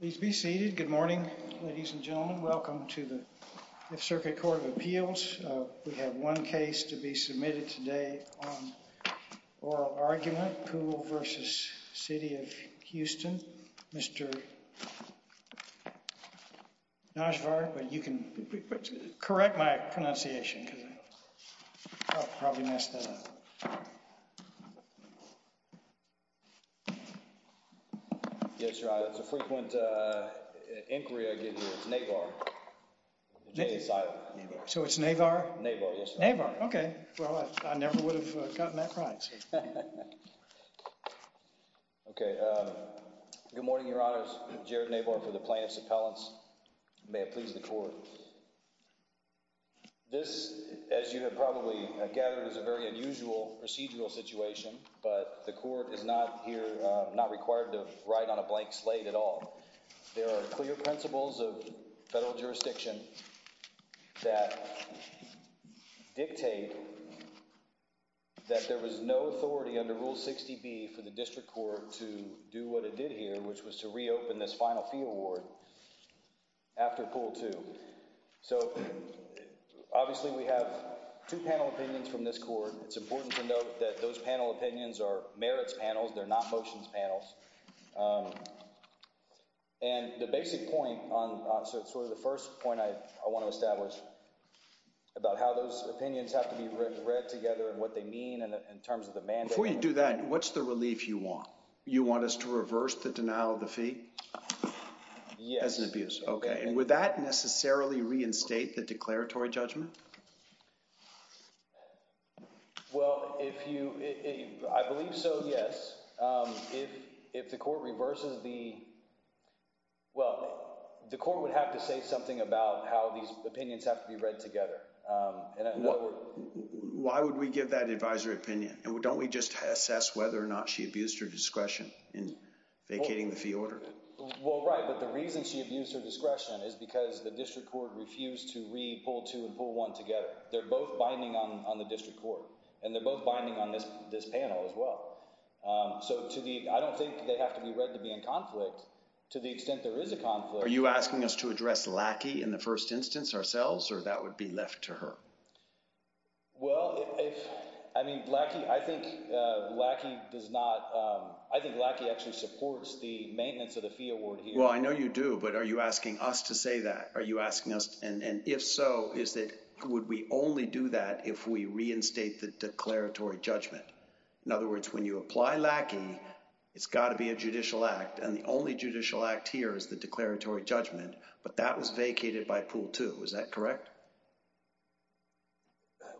Please be seated. Good morning, ladies and gentlemen. Welcome to the Fifth Circuit Court of Appeals. We have one case to be submitted today on oral argument, Poole v. City of Houston. Mr. Najvar, but you can correct my pronunciation because I probably messed that up. Yes, Your Honor. It's a frequent inquiry I give you. It's Navar. So it's Navar? Navar, yes, Your Honor. Navar, okay. Well, I never would have gotten that right. Okay. Good morning, Your Honors. Jared Navar for the plaintiff's appellants. May it please the court. This, as you have probably gathered, is a very unusual procedural situation, but the court is not here, not required to write on a blank slate at all. There are clear principles of federal jurisdiction that dictate that there was no authority under Rule 60B for the district court to do what it did here, which was to reopen this final fee award after Poole 2. So obviously we have two panel opinions from this court. It's important to note that those panel opinions are merits panels. They're not motions panels. And the basic point on sort of the first point I want to establish about how those opinions have to be read together and what they mean in terms of the mandate. Before you do that, what's the relief you want? You want us to reverse the denial of the fee? Yes. As an abuse. Okay. And would that necessarily reinstate the declaratory judgment? Well, if you I believe so, yes. If if the court reverses the. Well, the court would have to say something about how these opinions have to be read together. And why would we give that advisory opinion? And don't we just assess whether or not she abused her discretion in vacating the fee order? Well, right. But the reason she abused her discretion is because the district court refused to read Poole 2 and Poole 1 together. They're both binding on the district court and they're both binding on this this panel as well. So to the I don't think they have to be read to be in conflict to the extent there is a conflict. Are you asking us to address Lackey in the first instance ourselves or that would be left to her? Well, if I mean, Blackie, I think Blackie does not I think Blackie actually supports the maintenance of the fee award. Well, I know you do. But are you asking us to say that? Are you asking us? And if so, is that would we only do that if we reinstate the declaratory judgment? In other words, when you apply Lackey, it's got to be a judicial act. And the only judicial act here is the declaratory judgment. But that was vacated by Poole 2. Was that correct?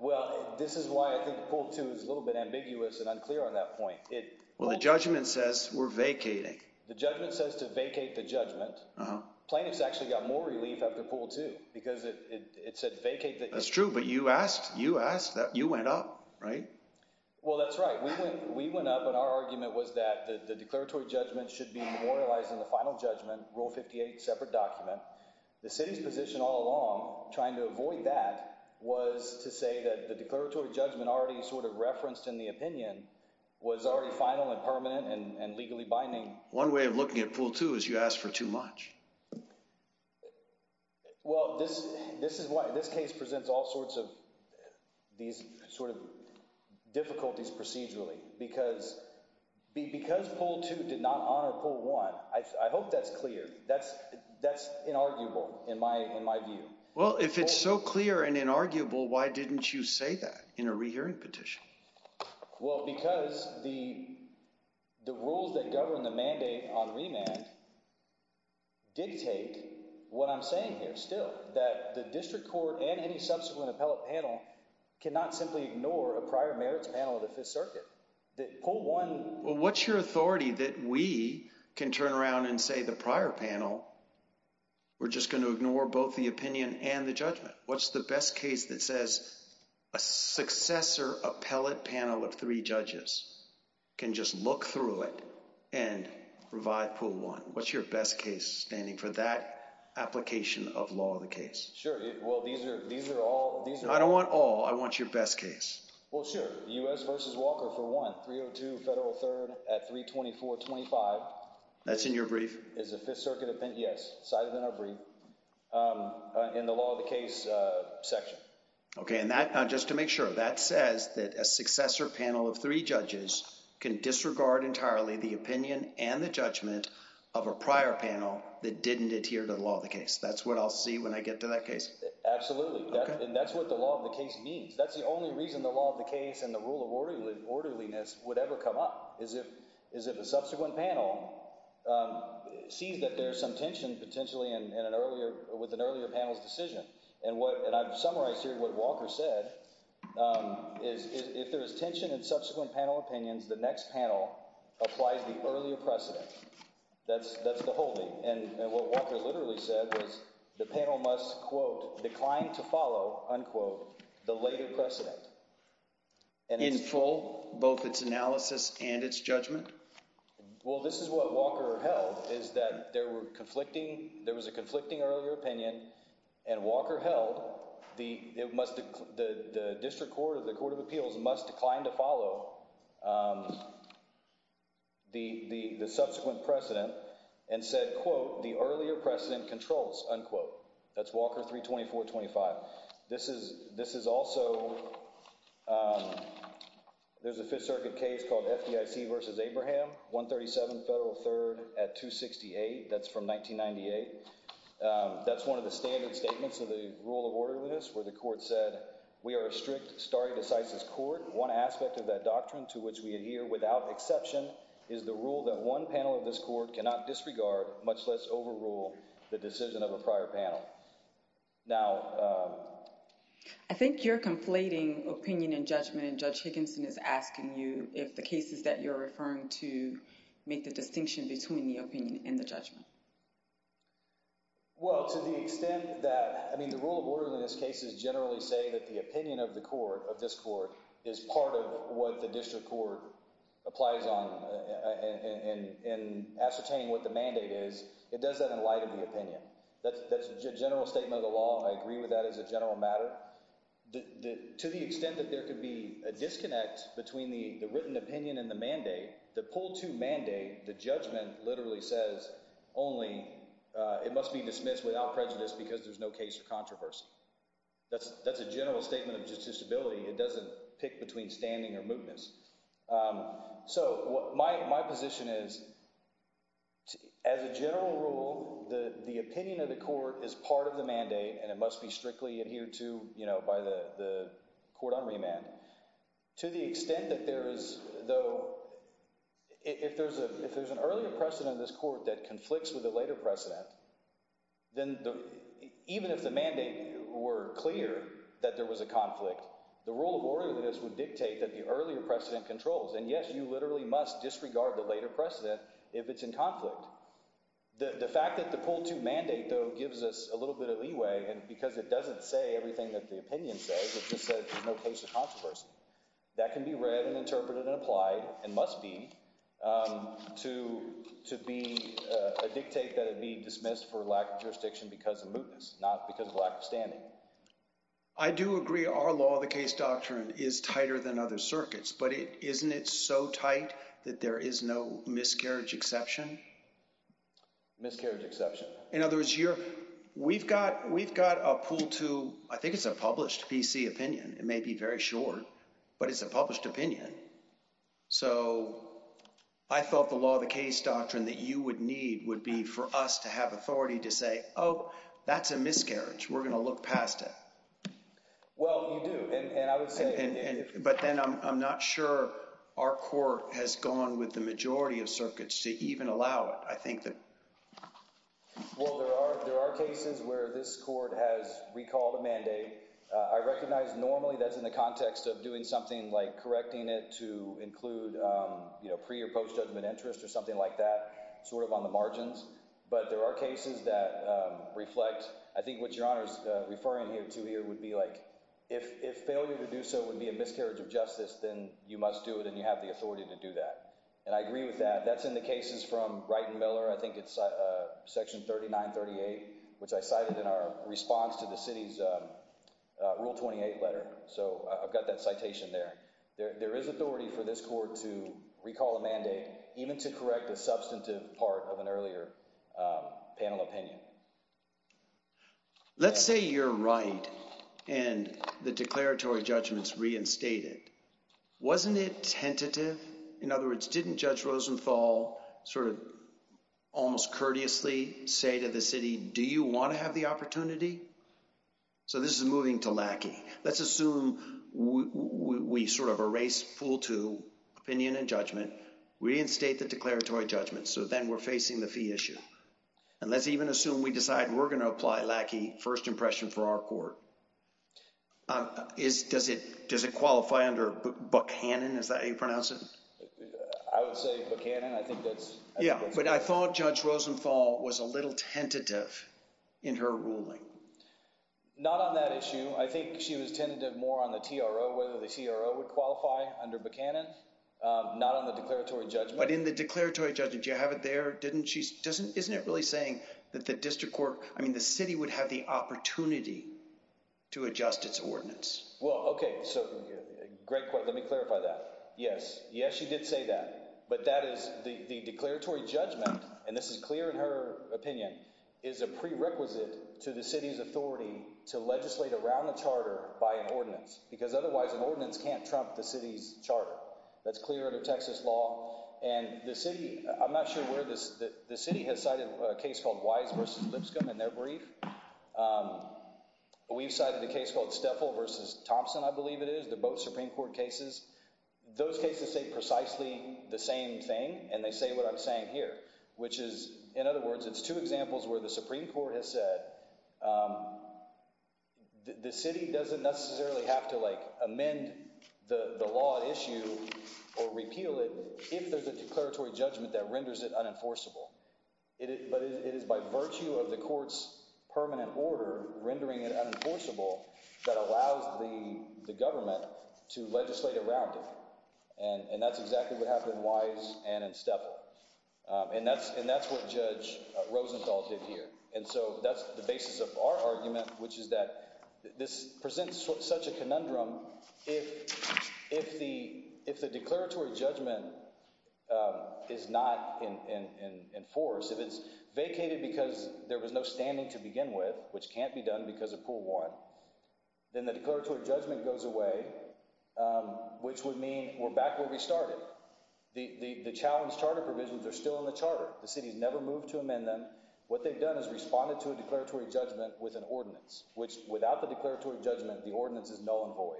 Well, this is why I think Poole 2 is a little bit ambiguous and unclear on that point. Well, the judgment says we're vacating. The judgment says to vacate the judgment. Plaintiffs actually got more relief after Poole 2 because it said vacate. That's true. But you asked you asked that you went up, right? Well, that's right. We went we went up. And our argument was that the declaratory judgment should be memorialized in the final judgment. Rule 58 separate document. The city's position all along trying to avoid that was to say that the declaratory judgment already sort of referenced in the opinion was already final and permanent and legally binding. One way of looking at Poole 2 is you ask for too much. Well, this this is why this case presents all sorts of these sort of difficulties procedurally, because because Poole 2 did not honor Poole 1. I hope that's clear. That's that's inarguable in my in my view. Well, if it's so clear and inarguable, why didn't you say that in a rehearing petition? Well, because the the rules that govern the mandate on remand. Dictate what I'm saying here still that the district court and any subsequent appellate panel cannot simply ignore a prior merits panel of the Fifth Circuit. Well, what's your authority that we can turn around and say the prior panel? We're just going to ignore both the opinion and the judgment. What's the best case that says a successor appellate panel of three judges can just look through it and provide pool one? What's your best case standing for that application of law? The case? Sure. Well, these are these are all these. I don't want all I want your best case. Well, sure. U.S. versus Walker for one three or two federal third at three twenty four twenty five. That's in your brief is the Fifth Circuit. Yes. Cited in our brief in the law of the case section. OK. And that just to make sure that says that a successor panel of three judges can disregard entirely the opinion and the judgment of a prior panel that didn't adhere to the law of the case. That's what I'll see when I get to that case. Absolutely. And that's what the law of the case means. That's the only reason the law of the case and the rule of orderly orderliness would ever come up is if is if a subsequent panel sees that there's some tension potentially in an earlier with an earlier panel's decision. And what and I've summarized here what Walker said is if there is tension in subsequent panel opinions, the next panel applies the earlier precedent. That's that's the whole thing. And what Walker literally said was the panel must, quote, declined to follow, unquote, the later precedent. And in full, both its analysis and its judgment. Well, this is what Walker held, is that there were conflicting. There was a conflicting earlier opinion. And Walker held the it must the district court of the Court of Appeals must decline to follow the subsequent precedent and said, quote, the earlier precedent controls, unquote. That's Walker three twenty four twenty five. This is this is also there's a Fifth Circuit case called FDIC versus Abraham one thirty seven federal third at two sixty eight. That's from 1998. That's one of the standard statements of the rule of order with us where the court said we are a strict stare decisis court. One aspect of that doctrine to which we adhere without exception is the rule that one panel of this court cannot disregard, much less overrule the decision of a prior panel. Now, I think you're conflating opinion and judgment. Judge Higginson is asking you if the cases that you're referring to make the distinction between the opinion and the judgment. Well, to the extent that I mean, the rule of order in this case is generally say that the opinion of the court of this court is part of what the district court applies on and ascertaining what the mandate is. It does that in light of the opinion. That's a general statement of the law. I agree with that as a general matter. To the extent that there could be a disconnect between the written opinion and the mandate, the pull to mandate the judgment literally says only it must be dismissed without prejudice because there's no case of controversy. That's that's a general statement of just disability. It doesn't pick between standing or movements. So my my position is. As a general rule, the opinion of the court is part of the mandate and it must be strictly adhered to by the court on remand to the extent that there is, though, if there's a if there's an earlier precedent in this court that conflicts with a later precedent. Then even if the mandate were clear that there was a conflict, the rule of order that this would dictate that the earlier precedent controls and yes, you literally must disregard the later precedent if it's in conflict. The fact that the pull to mandate, though, gives us a little bit of leeway and because it doesn't say everything that the opinion says it just said there's no case of controversy that can be read and interpreted and applied and must be to to be a dictate that it be dismissed for lack of jurisdiction because of movements, not because of lack of standing. I do agree. Our law, the case doctrine is tighter than other circuits, but isn't it so tight that there is no miscarriage exception? Miscarriage exception. In other words, you're we've got we've got a pool to I think it's a published PC opinion. It may be very short, but it's a published opinion. So I thought the law, the case doctrine that you would need would be for us to have authority to say, oh, that's a miscarriage. We're going to look past it. Well, you do. And I would say, but then I'm not sure our court has gone with the majority of circuits to even allow it. I think that. Well, there are there are cases where this court has recalled a mandate. I recognize normally that's in the context of doing something like correcting it to include pre or post judgment interest or something like that, sort of on the margins. But there are cases that reflect. I think what you're referring here to here would be like if failure to do so would be a miscarriage of justice, then you must do it and you have the authority to do that. And I agree with that. That's in the cases from Brighton Miller. I think it's section thirty nine thirty eight, which I cited in our response to the city's rule twenty eight letter. So I've got that citation there. There is authority for this court to recall a mandate even to correct a substantive part of an earlier panel opinion. Let's say you're right. And the declaratory judgments reinstated. Wasn't it tentative? In other words, didn't Judge Rosenthal sort of almost courteously say to the city, do you want to have the opportunity? So this is moving to Lackey. Let's assume we sort of erase pool to opinion and judgment, reinstate the declaratory judgment. So then we're facing the fee issue. And let's even assume we decide we're going to apply Lackey first impression for our court. Is does it does it qualify under Buchanan? Is that how you pronounce it? I would say Buchanan. I think that's. Yeah. But I thought Judge Rosenthal was a little tentative in her ruling. Not on that issue. I think she was tentative more on the T.R.O. whether the T.R.O. would qualify under Buchanan, not on the declaratory judgment. But in the declaratory judgment, you have it there, didn't she? Doesn't isn't it really saying that the district court? I mean, the city would have the opportunity to adjust its ordinance. Well, OK, so great. Let me clarify that. Yes. Yes, she did say that. But that is the declaratory judgment. And this is clear in her opinion is a prerequisite to the city's authority to legislate around the charter by an ordinance, because otherwise an ordinance can't trump the city's charter. That's clear under Texas law. And the city I'm not sure where the city has cited a case called Wise versus Lipscomb in their brief. We've cited a case called Steffel versus Thompson. I believe it is the both Supreme Court cases. Those cases say precisely the same thing. And they say what I'm saying here, which is, in other words, it's two examples where the Supreme Court has said the city doesn't necessarily have to amend the law issue or repeal it. If there's a declaratory judgment that renders it unenforceable, but it is by virtue of the court's permanent order, rendering it unenforceable that allows the government to legislate around it. And that's exactly what happened in Wise and Steffel. And that's and that's what Judge Rosenthal did here. And so that's the basis of our argument, which is that this presents such a conundrum. If if the if the declaratory judgment is not in force, if it's vacated because there was no standing to begin with, which can't be done because of pool one, then the declaratory judgment goes away, which would mean we're back where we started. The challenge charter provisions are still in the charter. The city has never moved to amend them. What they've done is responded to a declaratory judgment with an ordinance, which without the declaratory judgment, the ordinance is null and void.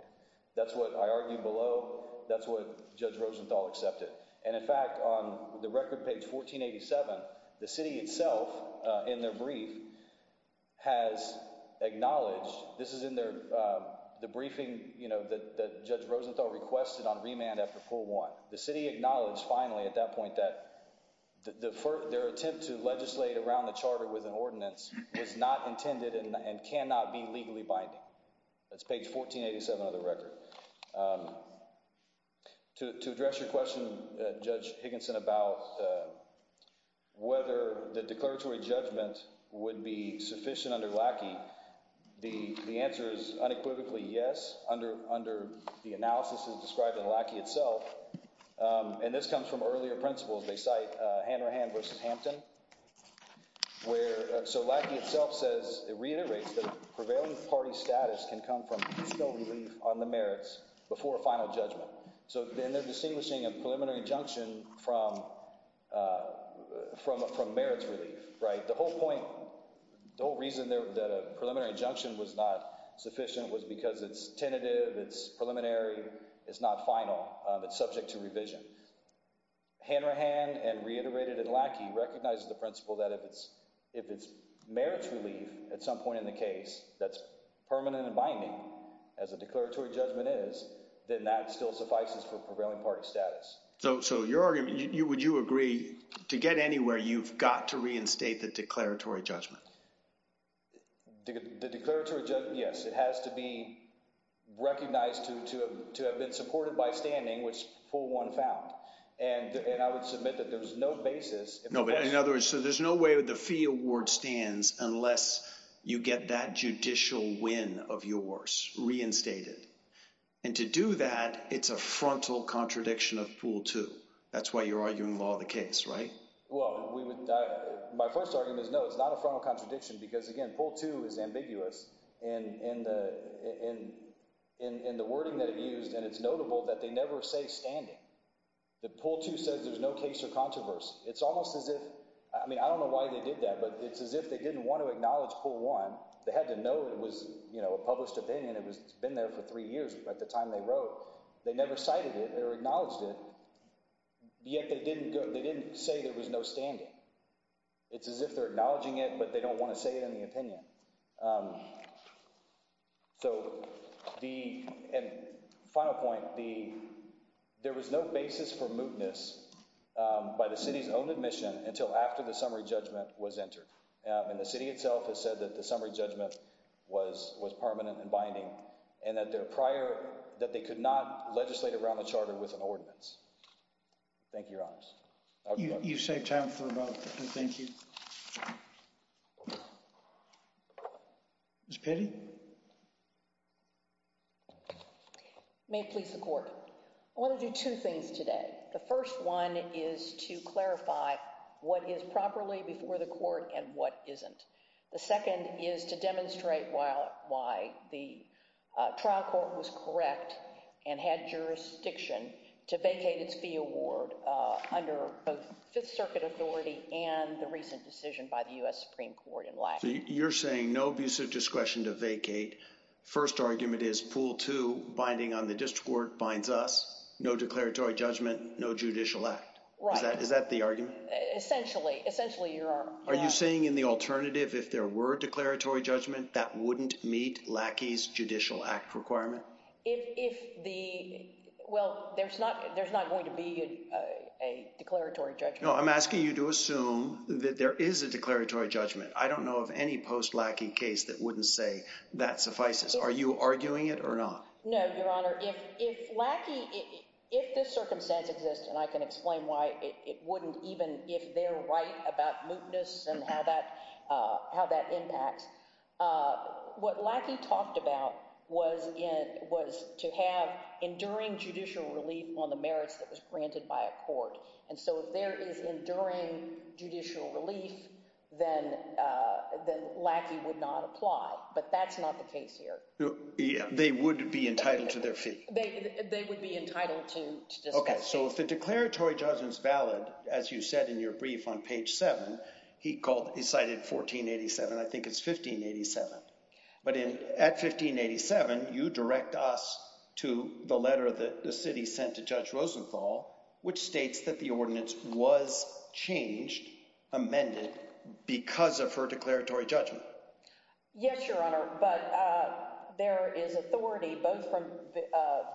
That's what I argue below. That's what Judge Rosenthal accepted. And in fact, on the record, page 1487, the city itself in their brief has acknowledged this is in their the briefing that Judge Rosenthal requested on remand. After pool one, the city acknowledged finally at that point that their attempt to legislate around the charter with an ordinance was not intended and cannot be legally binding. That's page 1487 of the record. To address your question, Judge Higginson, about whether the declaratory judgment would be sufficient under lackey, the answer is unequivocally yes. Under under the analysis is described in lackey itself. And this comes from earlier principles. They cite Hanrahan versus Hampton, where so lackey itself says it reiterates the prevailing party status can come from relief on the merits before a final judgment. So then they're distinguishing a preliminary injunction from from from merits relief. Right. The whole point, the whole reason that a preliminary injunction was not sufficient was because it's tentative. It's preliminary. It's not final. It's subject to revision. Hanrahan and reiterated and lackey recognizes the principle that if it's if it's merits relief at some point in the case that's permanent and binding as a declaratory judgment is, then that still suffices for prevailing party status. So so your argument, you would you agree to get anywhere? You've got to reinstate the declaratory judgment. The declaratory. Yes, it has to be recognized to to to have been supported by standing, which pool one found. And I would submit that there was no basis. No, but in other words, so there's no way the fee award stands unless you get that judicial win of yours reinstated. And to do that, it's a frontal contradiction of pool two. That's why you're arguing the case. Right. Well, we would my first argument is no, it's not a frontal contradiction because, again, pool two is ambiguous. And in the in in the wording that it used, and it's notable that they never say standing the pool to says there's no case or controversy. It's almost as if I mean, I don't know why they did that, but it's as if they didn't want to acknowledge pool one. They had to know it was a published opinion. It was been there for three years. But at the time they wrote, they never cited it or acknowledged it. Yet they didn't go. They didn't say there was no standing. It's as if they're acknowledging it, but they don't want to say it in the opinion. So the final point, the there was no basis for mootness by the city's own admission until after the summary judgment was entered in the city itself has said that the summary judgment was was permanent and binding and that their prior that they could not legislate around the charter with an ordinance. Thank you. You saved time for about. Thank you. It's pity. May please the court. I want to do two things today. The first one is to clarify what is properly before the court and what isn't. The second is to demonstrate while why the trial court was correct and had jurisdiction to vacate its fee award under the Fifth Circuit authority and the recent decision by the US Supreme Court in life. You're saying no abuse of discretion to vacate. First argument is pool to binding on the district court binds us no declaratory judgment, no judicial act. Is that the argument? Essentially, essentially, you are. Are you saying in the alternative if there were declaratory judgment that wouldn't meet Lackey's judicial act requirement? If the well, there's not there's not going to be a declaratory judge. I'm asking you to assume that there is a declaratory judgment. I don't know of any post Lackey case that wouldn't say that suffices. Are you arguing it or not? No, Your Honor. If if Lackey if this circumstance exists and I can explain why it wouldn't even if they're right about mootness and how that how that impacts what Lackey talked about was it was to have enduring judicial relief on the merits that was granted by a court. And so if there is enduring judicial relief, then then Lackey would not apply. But that's not the case here. They would be entitled to their feet. They would be entitled to. OK, so if the declaratory judgment is valid, as you said in your brief on page seven, he called he cited 1487. I think it's 1587. But at 1587, you direct us to the letter that the city sent to Judge Rosenthal, which states that the ordinance was changed, amended because of her declaratory judgment. Yes, Your Honor. But there is authority both from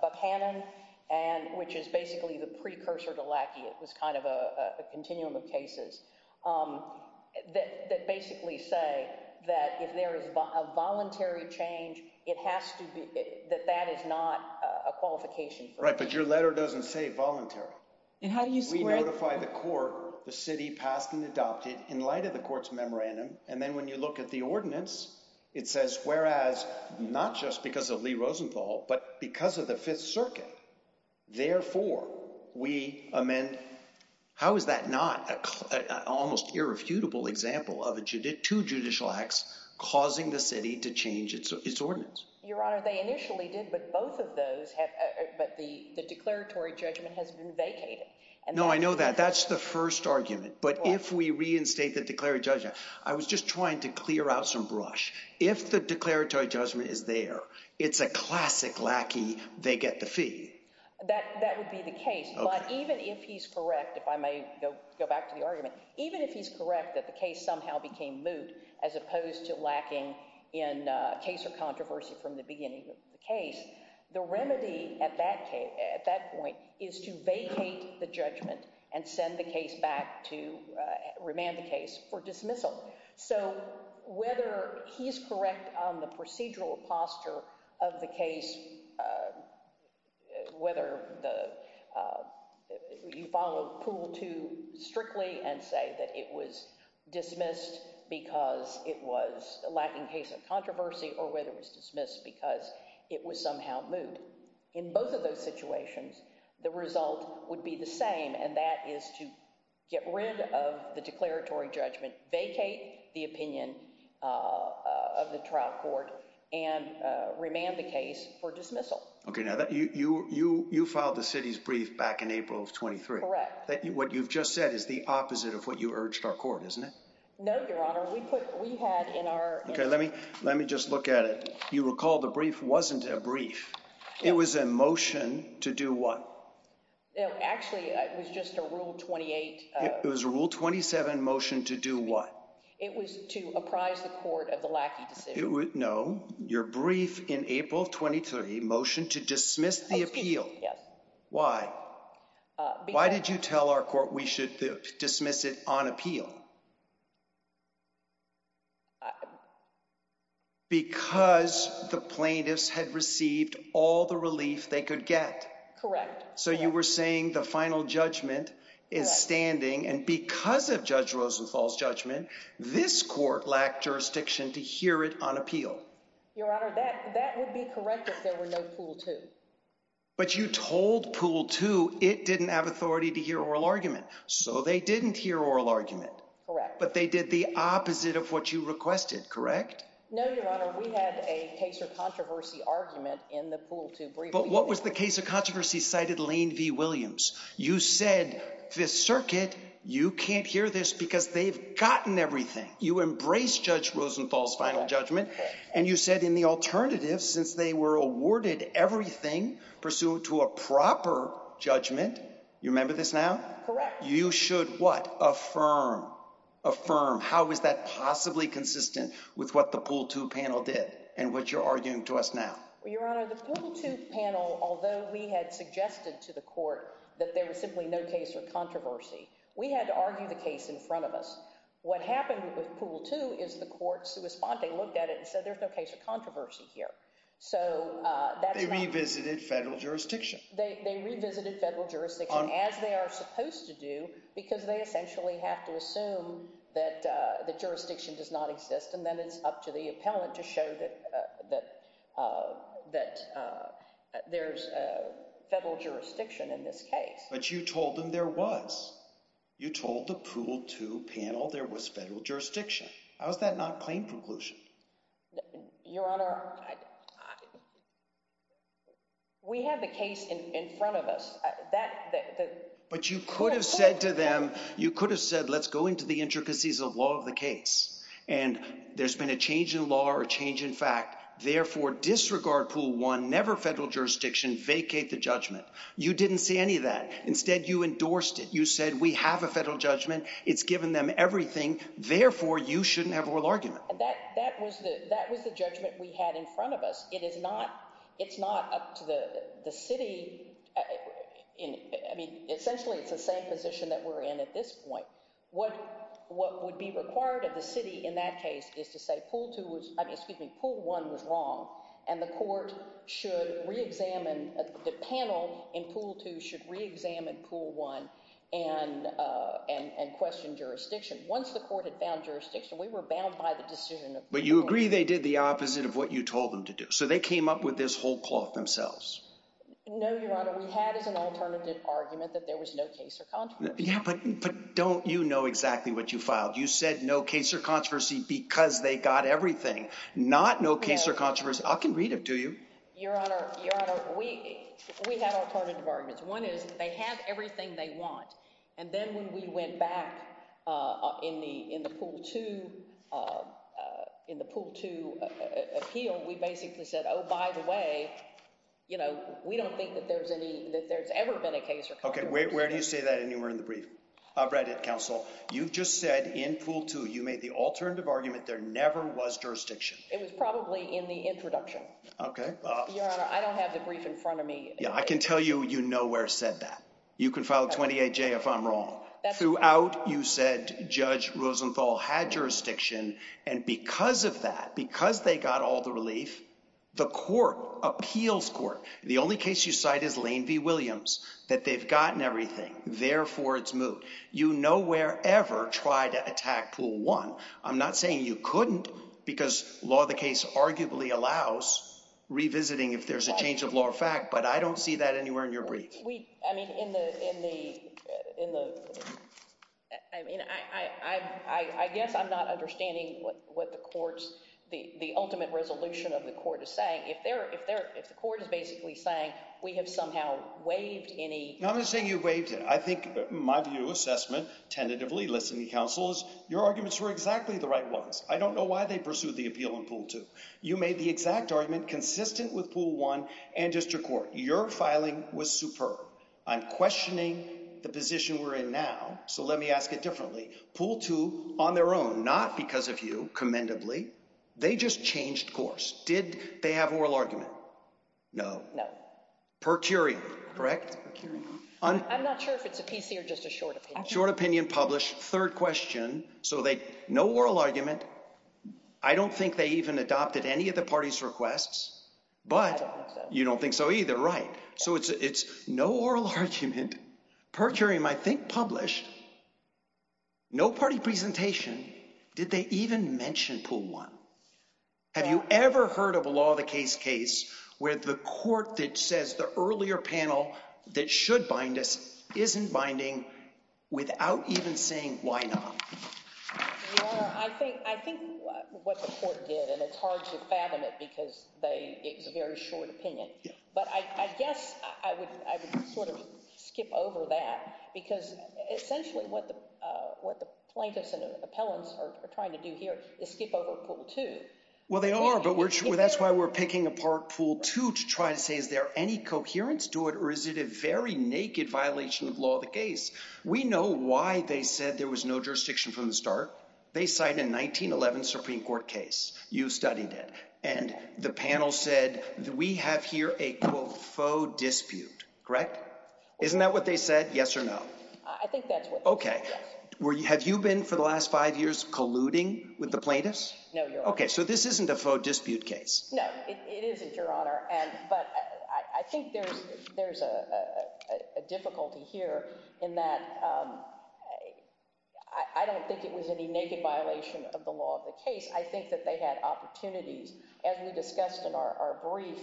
Buchanan and which is basically the precursor to Lackey. It was kind of a continuum of cases that basically say that if there is a voluntary change, it has to be that that is not a qualification. Right. But your letter doesn't say voluntary. We notify the court the city passed and adopted in light of the court's memorandum. And then when you look at the ordinance, it says, whereas not just because of Lee Rosenthal, but because of the Fifth Circuit, therefore we amend. How is that not an almost irrefutable example of two judicial acts causing the city to change its ordinance? Your Honor, they initially did. But both of those have. But the declaratory judgment has been vacated. No, I know that. That's the first argument. But if we reinstate the declaratory judgment, I was just trying to clear out some brush. If the declaratory judgment is there, it's a classic Lackey. They get the fee that that would be the case. But even if he's correct, if I may go back to the argument, even if he's correct, that the case somehow became moot as opposed to lacking in case of controversy from the beginning of the case. The remedy at that point is to vacate the judgment and send the case back to remand the case for dismissal. So whether he's correct on the procedural posture of the case, whether you follow Poole too strictly and say that it was dismissed because it was lacking case of controversy or whether it was dismissed because it was somehow moot. In both of those situations, the result would be the same. And that is to get rid of the declaratory judgment, vacate the opinion of the trial court and remand the case for dismissal. OK, now that you you you filed the city's brief back in April of twenty three. Correct. What you've just said is the opposite of what you urged our court, isn't it? No, Your Honor. We put we had in our. OK, let me let me just look at it. You recall the brief wasn't a brief. It was a motion to do what? Actually, it was just a rule. Twenty eight. It was a rule. Twenty seven motion to do what? It was to apprise the court of the lack. It would know your brief in April. Twenty three motion to dismiss the appeal. Yes. Why? Why did you tell our court we should dismiss it on appeal? Because the plaintiffs had received all the relief they could get. So you were saying the final judgment is standing. And because of Judge Rosenthal's judgment, this court lacked jurisdiction to hear it on appeal. Your Honor, that that would be correct if there were no pool, too. But you told pool to it didn't have authority to hear oral argument, so they didn't hear oral argument. Correct. But they did the opposite of what you requested, correct? No, Your Honor. We had a case of controversy argument in the pool to brief. But what was the case of controversy cited Lane v. Williams? You said Fifth Circuit, you can't hear this because they've gotten everything. You embrace Judge Rosenthal's final judgment. And you said in the alternative, since they were awarded everything pursuant to a proper judgment. You remember this now? Correct. You should what? Affirm. How is that possibly consistent with what the pool to panel did and what you're arguing to us now? Your Honor, the pool to panel, although we had suggested to the court that there was simply no case of controversy. We had to argue the case in front of us. What happened with pool to is the court's response. They looked at it and said there's no case of controversy here. So that's not. They revisited federal jurisdiction. They revisited federal jurisdiction as they are supposed to do because they essentially have to assume that the jurisdiction does not exist. And then it's up to the appellant to show that that that there's a federal jurisdiction in this case. But you told them there was. You told the pool to panel there was federal jurisdiction. How is that not plain preclusion? Your Honor, we had the case in front of us. But you could have said to them, you could have said, let's go into the intricacies of law of the case. And there's been a change in law or a change in fact. Therefore, disregard pool one, never federal jurisdiction, vacate the judgment. You didn't say any of that. Instead, you endorsed it. You said we have a federal judgment. It's given them everything. Therefore, you shouldn't have a real argument. That that was the that was the judgment we had in front of us. It is not. It's not up to the city. I mean, essentially, it's the same position that we're in at this point. What what would be required of the city in that case is to say pool two was excuse me, pool one was wrong. And the court should reexamine the panel in pool two should reexamine pool one and and question jurisdiction. Once the court had found jurisdiction, we were bound by the decision. But you agree they did the opposite of what you told them to do. So they came up with this whole cloth themselves. No, Your Honor. We had as an alternative argument that there was no case. Yeah, but but don't you know exactly what you filed? You said no case or controversy because they got everything, not no case or controversy. I can read it to you. Your Honor. Your Honor, we we had alternative arguments. One is they have everything they want. And then when we went back in the in the pool to in the pool to appeal, we basically said, oh, by the way, you know, we don't think that there's any that there's ever been a case. OK, where do you say that? And you were in the brief. I've read it. Counsel. You've just said in pool two, you made the alternative argument. There never was jurisdiction. It was probably in the introduction. OK. I don't have the brief in front of me. Yeah, I can tell you, you know, where said that you can follow 28 J. If I'm wrong throughout, you said Judge Rosenthal had jurisdiction. And because of that, because they got all the relief, the court appeals court. The only case you cite is Lane v. Williams, that they've gotten everything. Therefore, it's moot. You know, wherever tried to attack pool one. I'm not saying you couldn't because law, the case arguably allows revisiting if there's a change of law or fact. But I don't see that anywhere in your brief. We I mean, in the in the in the I mean, I, I, I guess I'm not understanding what what the court's the ultimate resolution of the court is saying. If they're if they're if the court is basically saying we have somehow waived any. I'm going to say you wait. I think my view assessment tentatively listening counsel is your arguments were exactly the right ones. I don't know why they pursue the appeal in pool two. You made the exact argument consistent with pool one and district court. Your filing was superb. I'm questioning the position we're in now. So let me ask it differently. Pool two on their own. Not because of you commendably. They just changed course. Did they have oral argument? No, no. Per curio. Correct. I'm not sure if it's a PC or just a short, short opinion published. Third question. So they no oral argument. I don't think they even adopted any of the party's requests. But you don't think so either. So it's it's no oral argument. Per curio. I think published. No party presentation. Did they even mention pool one? Have you ever heard of a law? The case case where the court that says the earlier panel that should bind us isn't binding without even saying why not? I think I think what the court did and it's hard to fathom it because they it was a very short opinion. But I guess I would I would sort of skip over that because essentially what the what the plaintiffs and appellants are trying to do here is skip over pool two. Well, they are. But we're sure that's why we're picking apart pool two to try to say, is there any coherence to it? Or is it a very naked violation of law? We know why they said there was no jurisdiction from the start. They signed a 1911 Supreme Court case. You studied it. And the panel said that we have here a faux dispute. Correct. Isn't that what they said? Yes or no. I think that's what. OK. Where have you been for the last five years colluding with the plaintiffs? OK, so this isn't a faux dispute case. No, it isn't, Your Honor. And but I think there's there's a difficulty here in that I don't think it was any naked violation of the law of the case. I think that they had opportunities, as we discussed in our brief.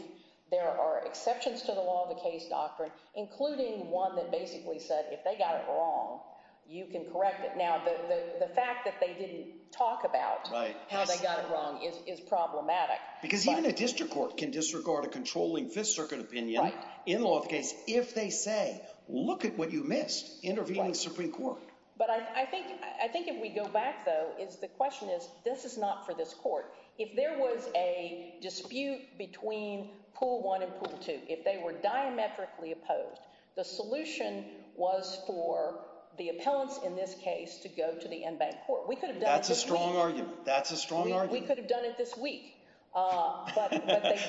There are exceptions to the law of the case doctrine, including one that basically said if they got it wrong, you can correct it. Now, the fact that they didn't talk about how they got it wrong is problematic. Because even a district court can disregard a controlling Fifth Circuit opinion in the law of the case if they say, look at what you missed intervening in the Supreme Court. But I think I think if we go back, though, is the question is this is not for this court. If there was a dispute between pool one and pool two, if they were diametrically opposed, the solution was for the appellants in this case to go to the en banc court. We could have. That's a strong argument. That's a strong argument. We could have done it this week.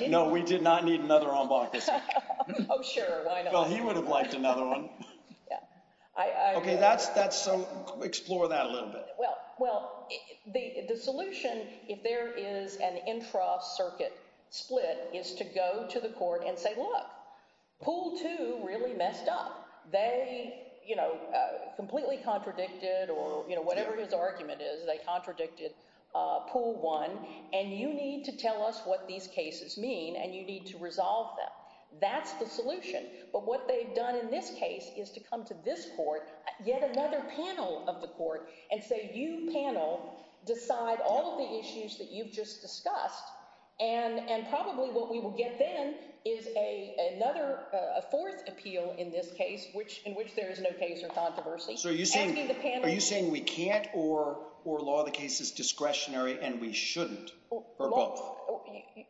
No, we did not need another en banc. Oh, sure. Well, he would have liked another one. Yeah, I. OK, that's that's. So explore that a little bit. Well, well, the solution, if there is an intra circuit split, is to go to the court and say, look, pool two really messed up. They, you know, completely contradicted or whatever his argument is. They contradicted pool one. And you need to tell us what these cases mean and you need to resolve them. That's the solution. But what they've done in this case is to come to this court, yet another panel of the court and say you panel decide all of the issues that you've just discussed. And and probably what we will get then is a another fourth appeal in this case, which in which there is no case or controversy. So are you saying are you saying we can't or or law the case is discretionary and we shouldn't or both?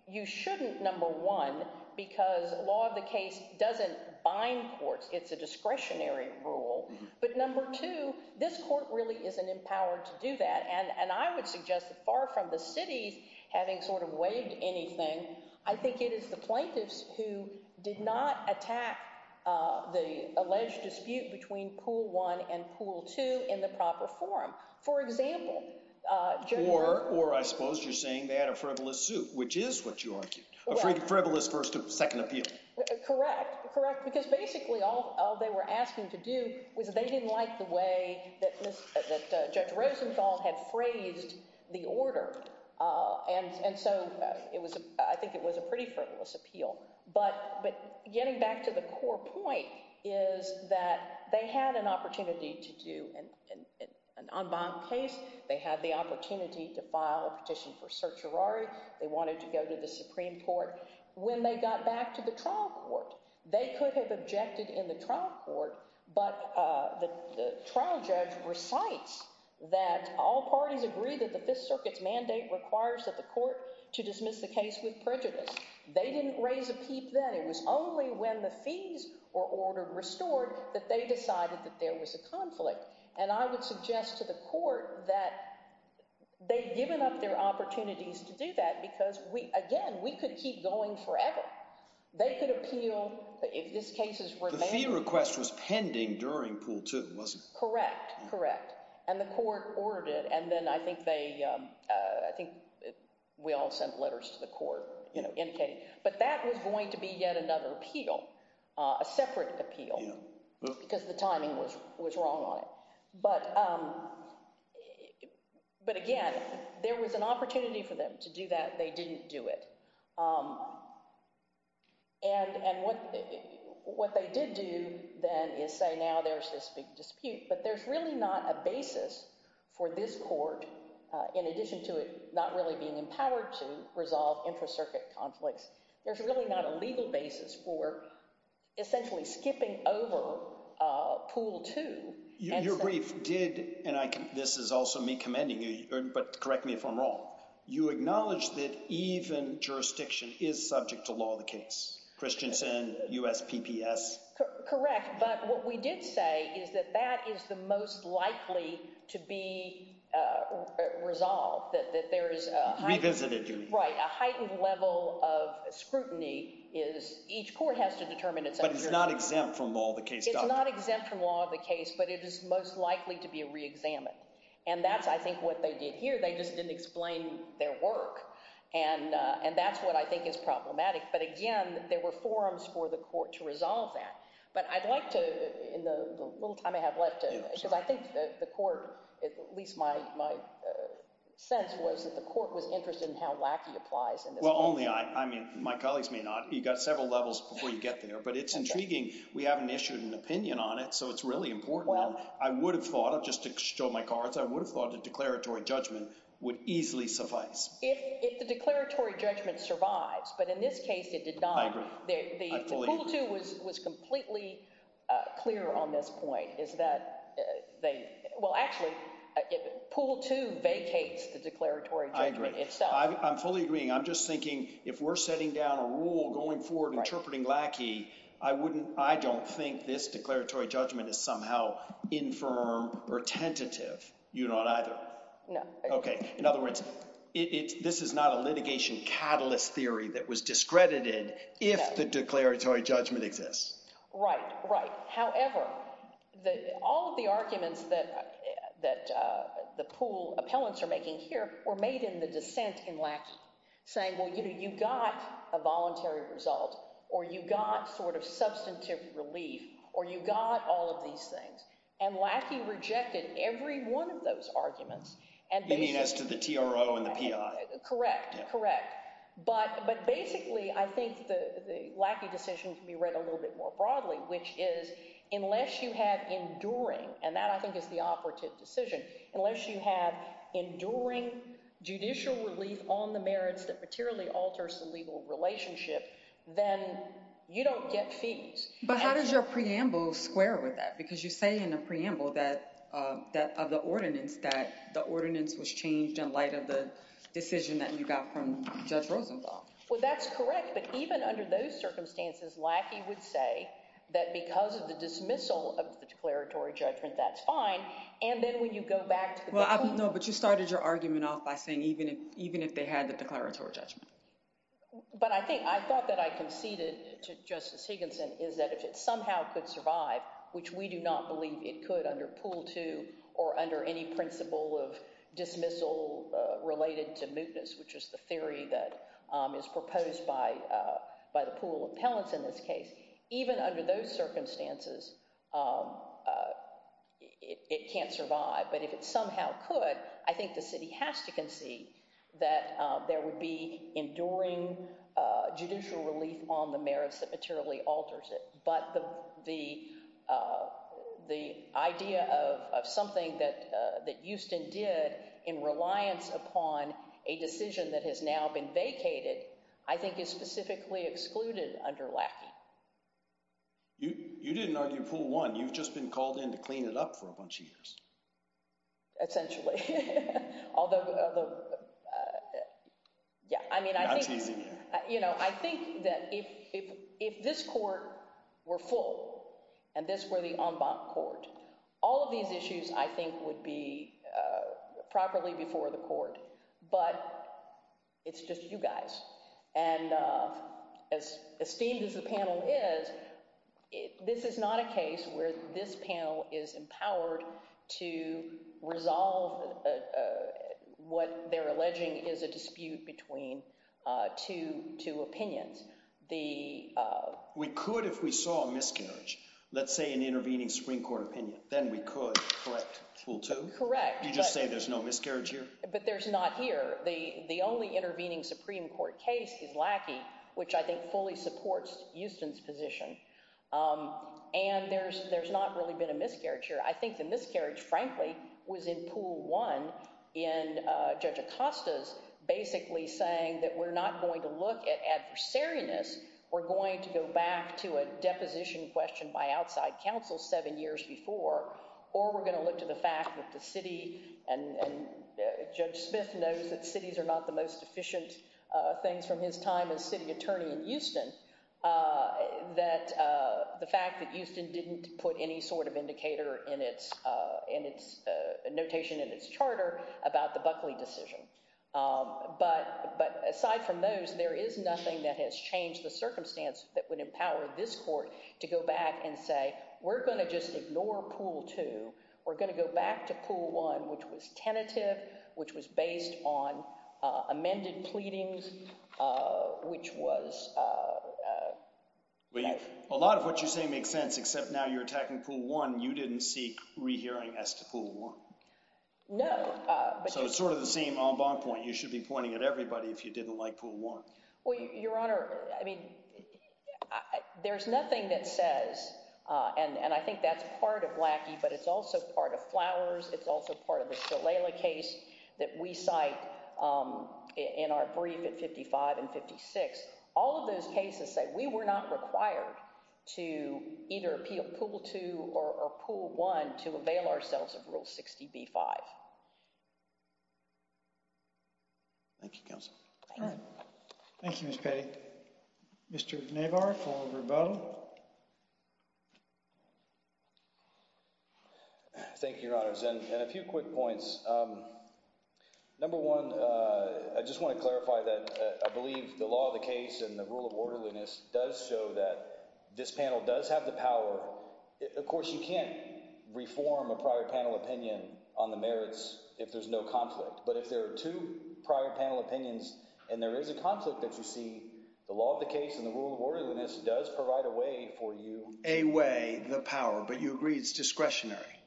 You shouldn't. Number one, because law of the case doesn't bind courts. It's a discretionary rule. But number two, this court really isn't empowered to do that. And I would suggest that far from the city's having sort of waived anything. I think it is the plaintiffs who did not attack the alleged dispute between pool one and pool two in the proper forum. For example, or or I suppose you're saying they had a frivolous suit, which is what you argued. Second, correct. Correct. Because basically all they were asking to do was they didn't like the way that Judge Rosenthal had phrased the order. And so it was I think it was a pretty frivolous appeal. But but getting back to the core point is that they had an opportunity to do an unbound case. They had the opportunity to file a petition for search. They wanted to go to the Supreme Court. When they got back to the trial court, they could have objected in the trial court. But the trial judge recites that all parties agree that the Fifth Circuit's mandate requires that the court to dismiss the case with prejudice. They didn't raise a peep that it was only when the fees were ordered restored that they decided that there was a conflict. And I would suggest to the court that they've given up their opportunities to do that because we again, we could keep going forever. They could appeal if this case is where the fee request was pending during pool two was correct. Correct. And the court ordered it. And then I think they I think we all sent letters to the court indicating. But that was going to be yet another appeal, a separate appeal, because the timing was was wrong on it. But but again, there was an opportunity for them to do that. They didn't do it. And what what they did do then is say now there's this big dispute, but there's really not a basis for this court. In addition to it not really being empowered to resolve intracircuit conflicts. There's really not a legal basis for essentially skipping over pool to your brief did. And this is also me commending you. But correct me if I'm wrong. You acknowledge that even jurisdiction is subject to law, the case Christians and USPPS. Correct. But what we did say is that that is the most likely to be resolved, that there is a revisited. Right. A heightened level of scrutiny is each court has to determine it. But it's not exempt from all the case. It's not exempt from all the case, but it is most likely to be reexamined. And that's I think what they did here. They just didn't explain their work. And and that's what I think is problematic. But again, there were forums for the court to resolve that. But I'd like to in the little time I have left, because I think the court, at least my my sense was that the court was interested in how lackey applies. Well, only I mean, my colleagues may not. You've got several levels before you get there, but it's intriguing. We haven't issued an opinion on it. So it's really important. Well, I would have thought just to show my cards, I would have thought the declaratory judgment would easily suffice. If the declaratory judgment survives. But in this case, it did not. The pool two was was completely clear on this point is that they will actually pool to vacates the declaratory. I agree. I'm fully agreeing. I'm just thinking if we're setting down a rule going forward, interpreting lackey, I wouldn't. I don't think this declaratory judgment is somehow infirm or tentative. You're not either. No. OK. In other words, it's this is not a litigation catalyst theory that was discredited. If the declaratory judgment exists. Right. Right. However, all of the arguments that that the pool appellants are making here were made in the dissent in Lackey saying, well, you know, you got a voluntary result or you got sort of substantive relief or you got all of these things. And Lackey rejected every one of those arguments. And as to the T.R.O. and the P.I. Correct. Correct. But but basically, I think the lackey decision can be read a little bit more broadly, which is unless you have enduring. And that I think is the operative decision. Unless you have enduring judicial relief on the merits that materially alters the legal relationship, then you don't get fees. But how does your preamble square with that? Because you say in a preamble that that of the ordinance, that the ordinance was changed in light of the decision that you got from Judge Rosenblatt. Well, that's correct. But even under those circumstances, Lackey would say that because of the dismissal of the declaratory judgment, that's fine. And then when you go back. Well, I don't know. But you started your argument off by saying even if even if they had the declaratory judgment. But I think I thought that I conceded to Justice Higginson is that if it somehow could survive, which we do not believe it could under pool to or under any principle of dismissal related to mootness, which is the theory that is proposed by by the pool of pellets in this case, even under those circumstances, it can't survive. But if it somehow could, I think the city has to concede that there would be enduring judicial relief on the merits that materially alters it. But the the the idea of something that that Houston did in reliance upon a decision that has now been vacated, I think, is specifically excluded under lack. You didn't argue pool one. You've just been called in to clean it up for a bunch of years. Essentially, although, yeah, I mean, I think, you know, I think that if if if this court were full and this were the en banc court, all of these issues I think would be properly before the court. But it's just you guys. And as esteemed as the panel is, this is not a case where this panel is empowered to resolve what they're alleging is a dispute between two two opinions. The we could if we saw a miscarriage, let's say an intervening Supreme Court opinion, then we could correct. Correct. You just say there's no miscarriage here, but there's not here. The the only intervening Supreme Court case is lackey, which I think fully supports Houston's position. And there's there's not really been a miscarriage here. I think the miscarriage, frankly, was in pool one. And Judge Acosta's basically saying that we're not going to look at adversariness. We're going to go back to a deposition question by outside counsel seven years before. Or we're going to look to the fact that the city and Judge Smith knows that cities are not the most efficient things from his time as city attorney in Houston, that the fact that Houston didn't put any sort of indicator in its in its notation in its charter about the Buckley decision. But but aside from those, there is nothing that has changed the circumstance that would empower this court to go back and say, we're going to just ignore pool two. We're going to go back to pool one, which was tentative, which was based on amended pleadings, which was a lot of what you say makes sense. Except now you're attacking pool one. You didn't seek rehearing as to pool one. No. So it's sort of the same on bond point. You should be pointing at everybody if you didn't like pool one. Well, Your Honor, I mean, there's nothing that says and I think that's part of lackey, but it's also part of flowers. It's also part of the case that we cite in our brief at fifty five and fifty six. All of those cases say we were not required to either appeal pool two or pool one to avail ourselves of rule 60 B5. Thank you, counsel. Thank you. Mr. Navarro. Thank you, Your Honor. And a few quick points. Number one, I just want to clarify that I believe the law of the case and the rule of orderliness does show that this panel does have the power. Of course, you can't reform a prior panel opinion on the merits if there's no conflict. But if there are two prior panel opinions and there is a conflict that you see, the law of the case and the rule of orderliness does provide a way for you. A way, the power. But you agree it's discretionary.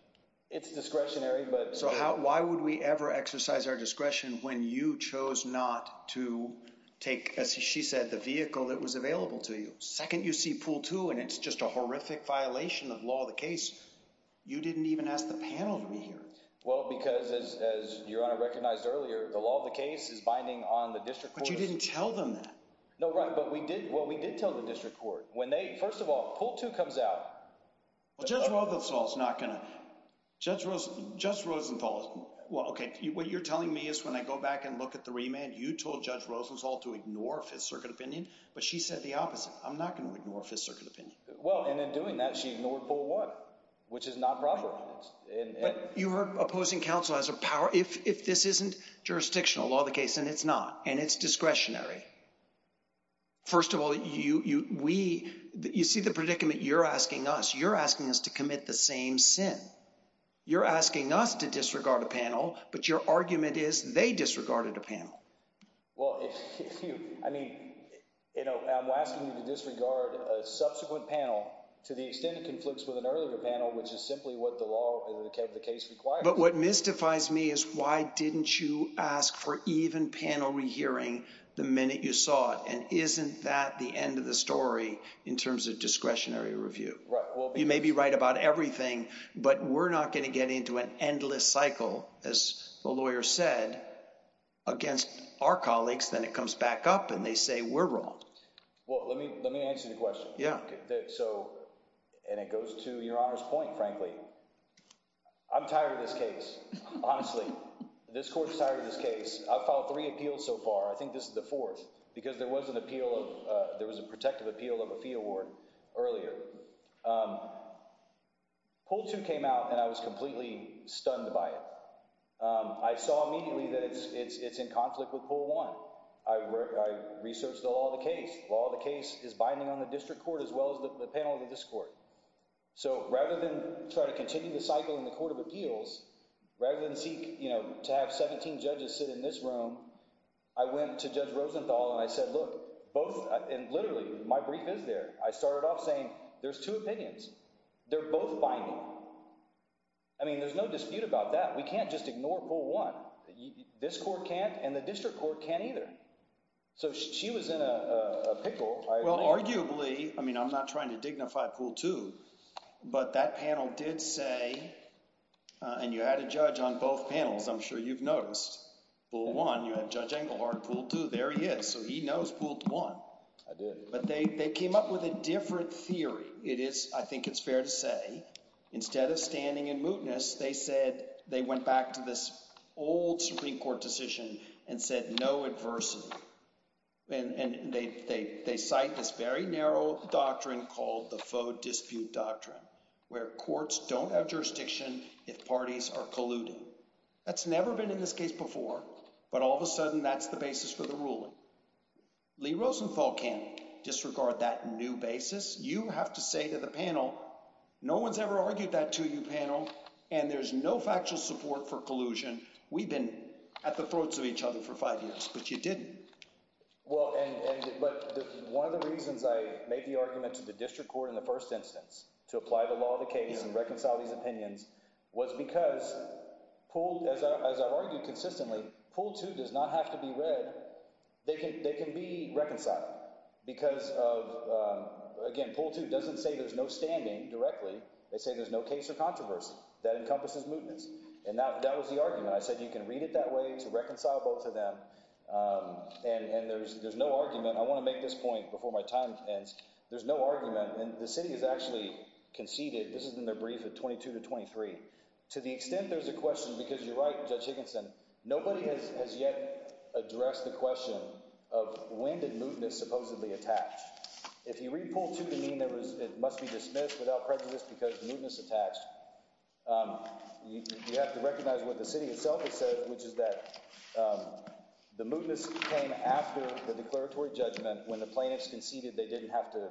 It's discretionary. But so how why would we ever exercise our discretion when you chose not to take, as she said, the vehicle that was available to you? Second, you see pool two and it's just a horrific violation of law of the case. You didn't even ask the panel to be here. Well, because, as Your Honor recognized earlier, the law of the case is binding on the district. But you didn't tell them that. No, right. But we did. Well, we did tell the district court when they first of all, pool two comes out. Well, Judge Rosenthal is not going to. Judge Rose, Judge Rosenthal. Well, OK, what you're telling me is when I go back and look at the remand, you told Judge Rosenthal to ignore Fifth Circuit opinion. But she said the opposite. I'm not going to ignore Fifth Circuit opinion. Well, and in doing that, she ignored pool one, which is not proper. But you are opposing counsel as a power if if this isn't jurisdictional law of the case and it's not and it's discretionary. First of all, you we you see the predicament you're asking us, you're asking us to commit the same sin. You're asking us to disregard a panel, but your argument is they disregarded a panel. Well, if you I mean, you know, I'm asking you to disregard a subsequent panel to the extent it conflicts with an earlier panel, which is simply what the law of the case requires. But what mystifies me is why didn't you ask for even panel rehearing the minute you saw it? And isn't that the end of the story in terms of discretionary review? Right. Well, you may be right about everything, but we're not going to get into an endless cycle, as the lawyer said, against our colleagues. Then it comes back up and they say we're wrong. Well, let me let me answer the question. Yeah. So and it goes to your honor's point. Frankly, I'm tired of this case. Honestly, this court is tired of this case. I've filed three appeals so far. I think this is the fourth because there was an appeal of there was a protective appeal of a fee award earlier. Poll two came out and I was completely stunned by it. I saw immediately that it's it's it's in conflict with poll one. I researched the law of the case. The law of the case is binding on the district court as well as the panel of this court. So rather than try to continue the cycle in the court of appeals, rather than seek to have 17 judges sit in this room, I went to Judge Rosenthal and I said, look, both literally my brief is there. I started off saying there's two opinions. They're both binding. I mean, there's no dispute about that. We can't just ignore poll one. This court can't. And the district court can't either. So she was in a pickle. Well, arguably, I mean, I'm not trying to dignify poll two, but that panel did say and you had a judge on both panels. I'm sure you've noticed poll one. You had Judge Engelhardt poll two. There he is. So he knows poll one. I did. But they came up with a different theory. It is I think it's fair to say instead of standing in mootness, they said they went back to this old Supreme Court decision and said no adversity. And they they they cite this very narrow doctrine called the faux dispute doctrine where courts don't have jurisdiction if parties are colluding. That's never been in this case before. But all of a sudden, that's the basis for the ruling. Lee Rosenthal can't disregard that new basis. You have to say to the panel, no one's ever argued that to you panel and there's no factual support for collusion. We've been at the throats of each other for five years, but you didn't. Well, and but one of the reasons I made the argument to the district court in the first instance to apply the law of the case and reconcile these opinions was because poll, as I've argued consistently, poll two does not have to be read. They can they can be reconciled because of again, poll two doesn't say there's no standing directly. They say there's no case of controversy that encompasses mootness. And that was the argument. I said you can read it that way to reconcile both of them. And there's there's no argument. I want to make this point before my time ends. There's no argument. And the city has actually conceded this is in their brief of twenty two to twenty three. To the extent there's a question because you're right, Judge Higginson, nobody has yet addressed the question of when did mootness supposedly attach? If you read poll to the mean, there was it must be dismissed without prejudice because mootness attached. You have to recognize what the city itself has said, which is that the mootness came after the declaratory judgment. When the plaintiffs conceded, they didn't have to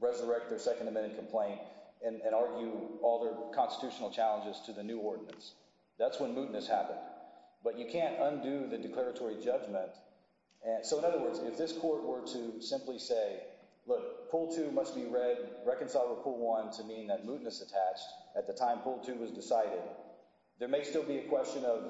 resurrect their Second Amendment complaint and argue all their constitutional challenges to the new ordinance. That's when mootness happened. But you can't undo the declaratory judgment. And so, in other words, if this court were to simply say, look, poll two must be read, reconcile or pull one to mean that mootness attached at the time poll two was decided. There may still be a question of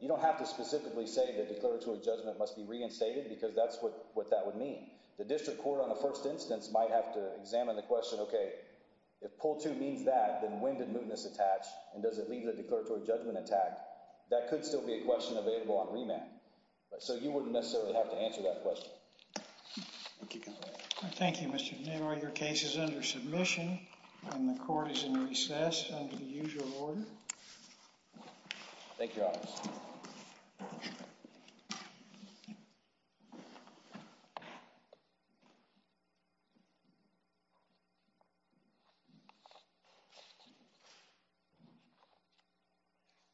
you don't have to specifically say the declaratory judgment must be reinstated because that's what what that would mean. The district court on the first instance might have to examine the question, OK, if poll two means that then when did mootness attach and does it leave the declaratory judgment attack? That could still be a question available on remand. So you wouldn't necessarily have to answer that question. Thank you, Mr. Newell. Your case is under submission and the court is in recess under the usual order. Thank you.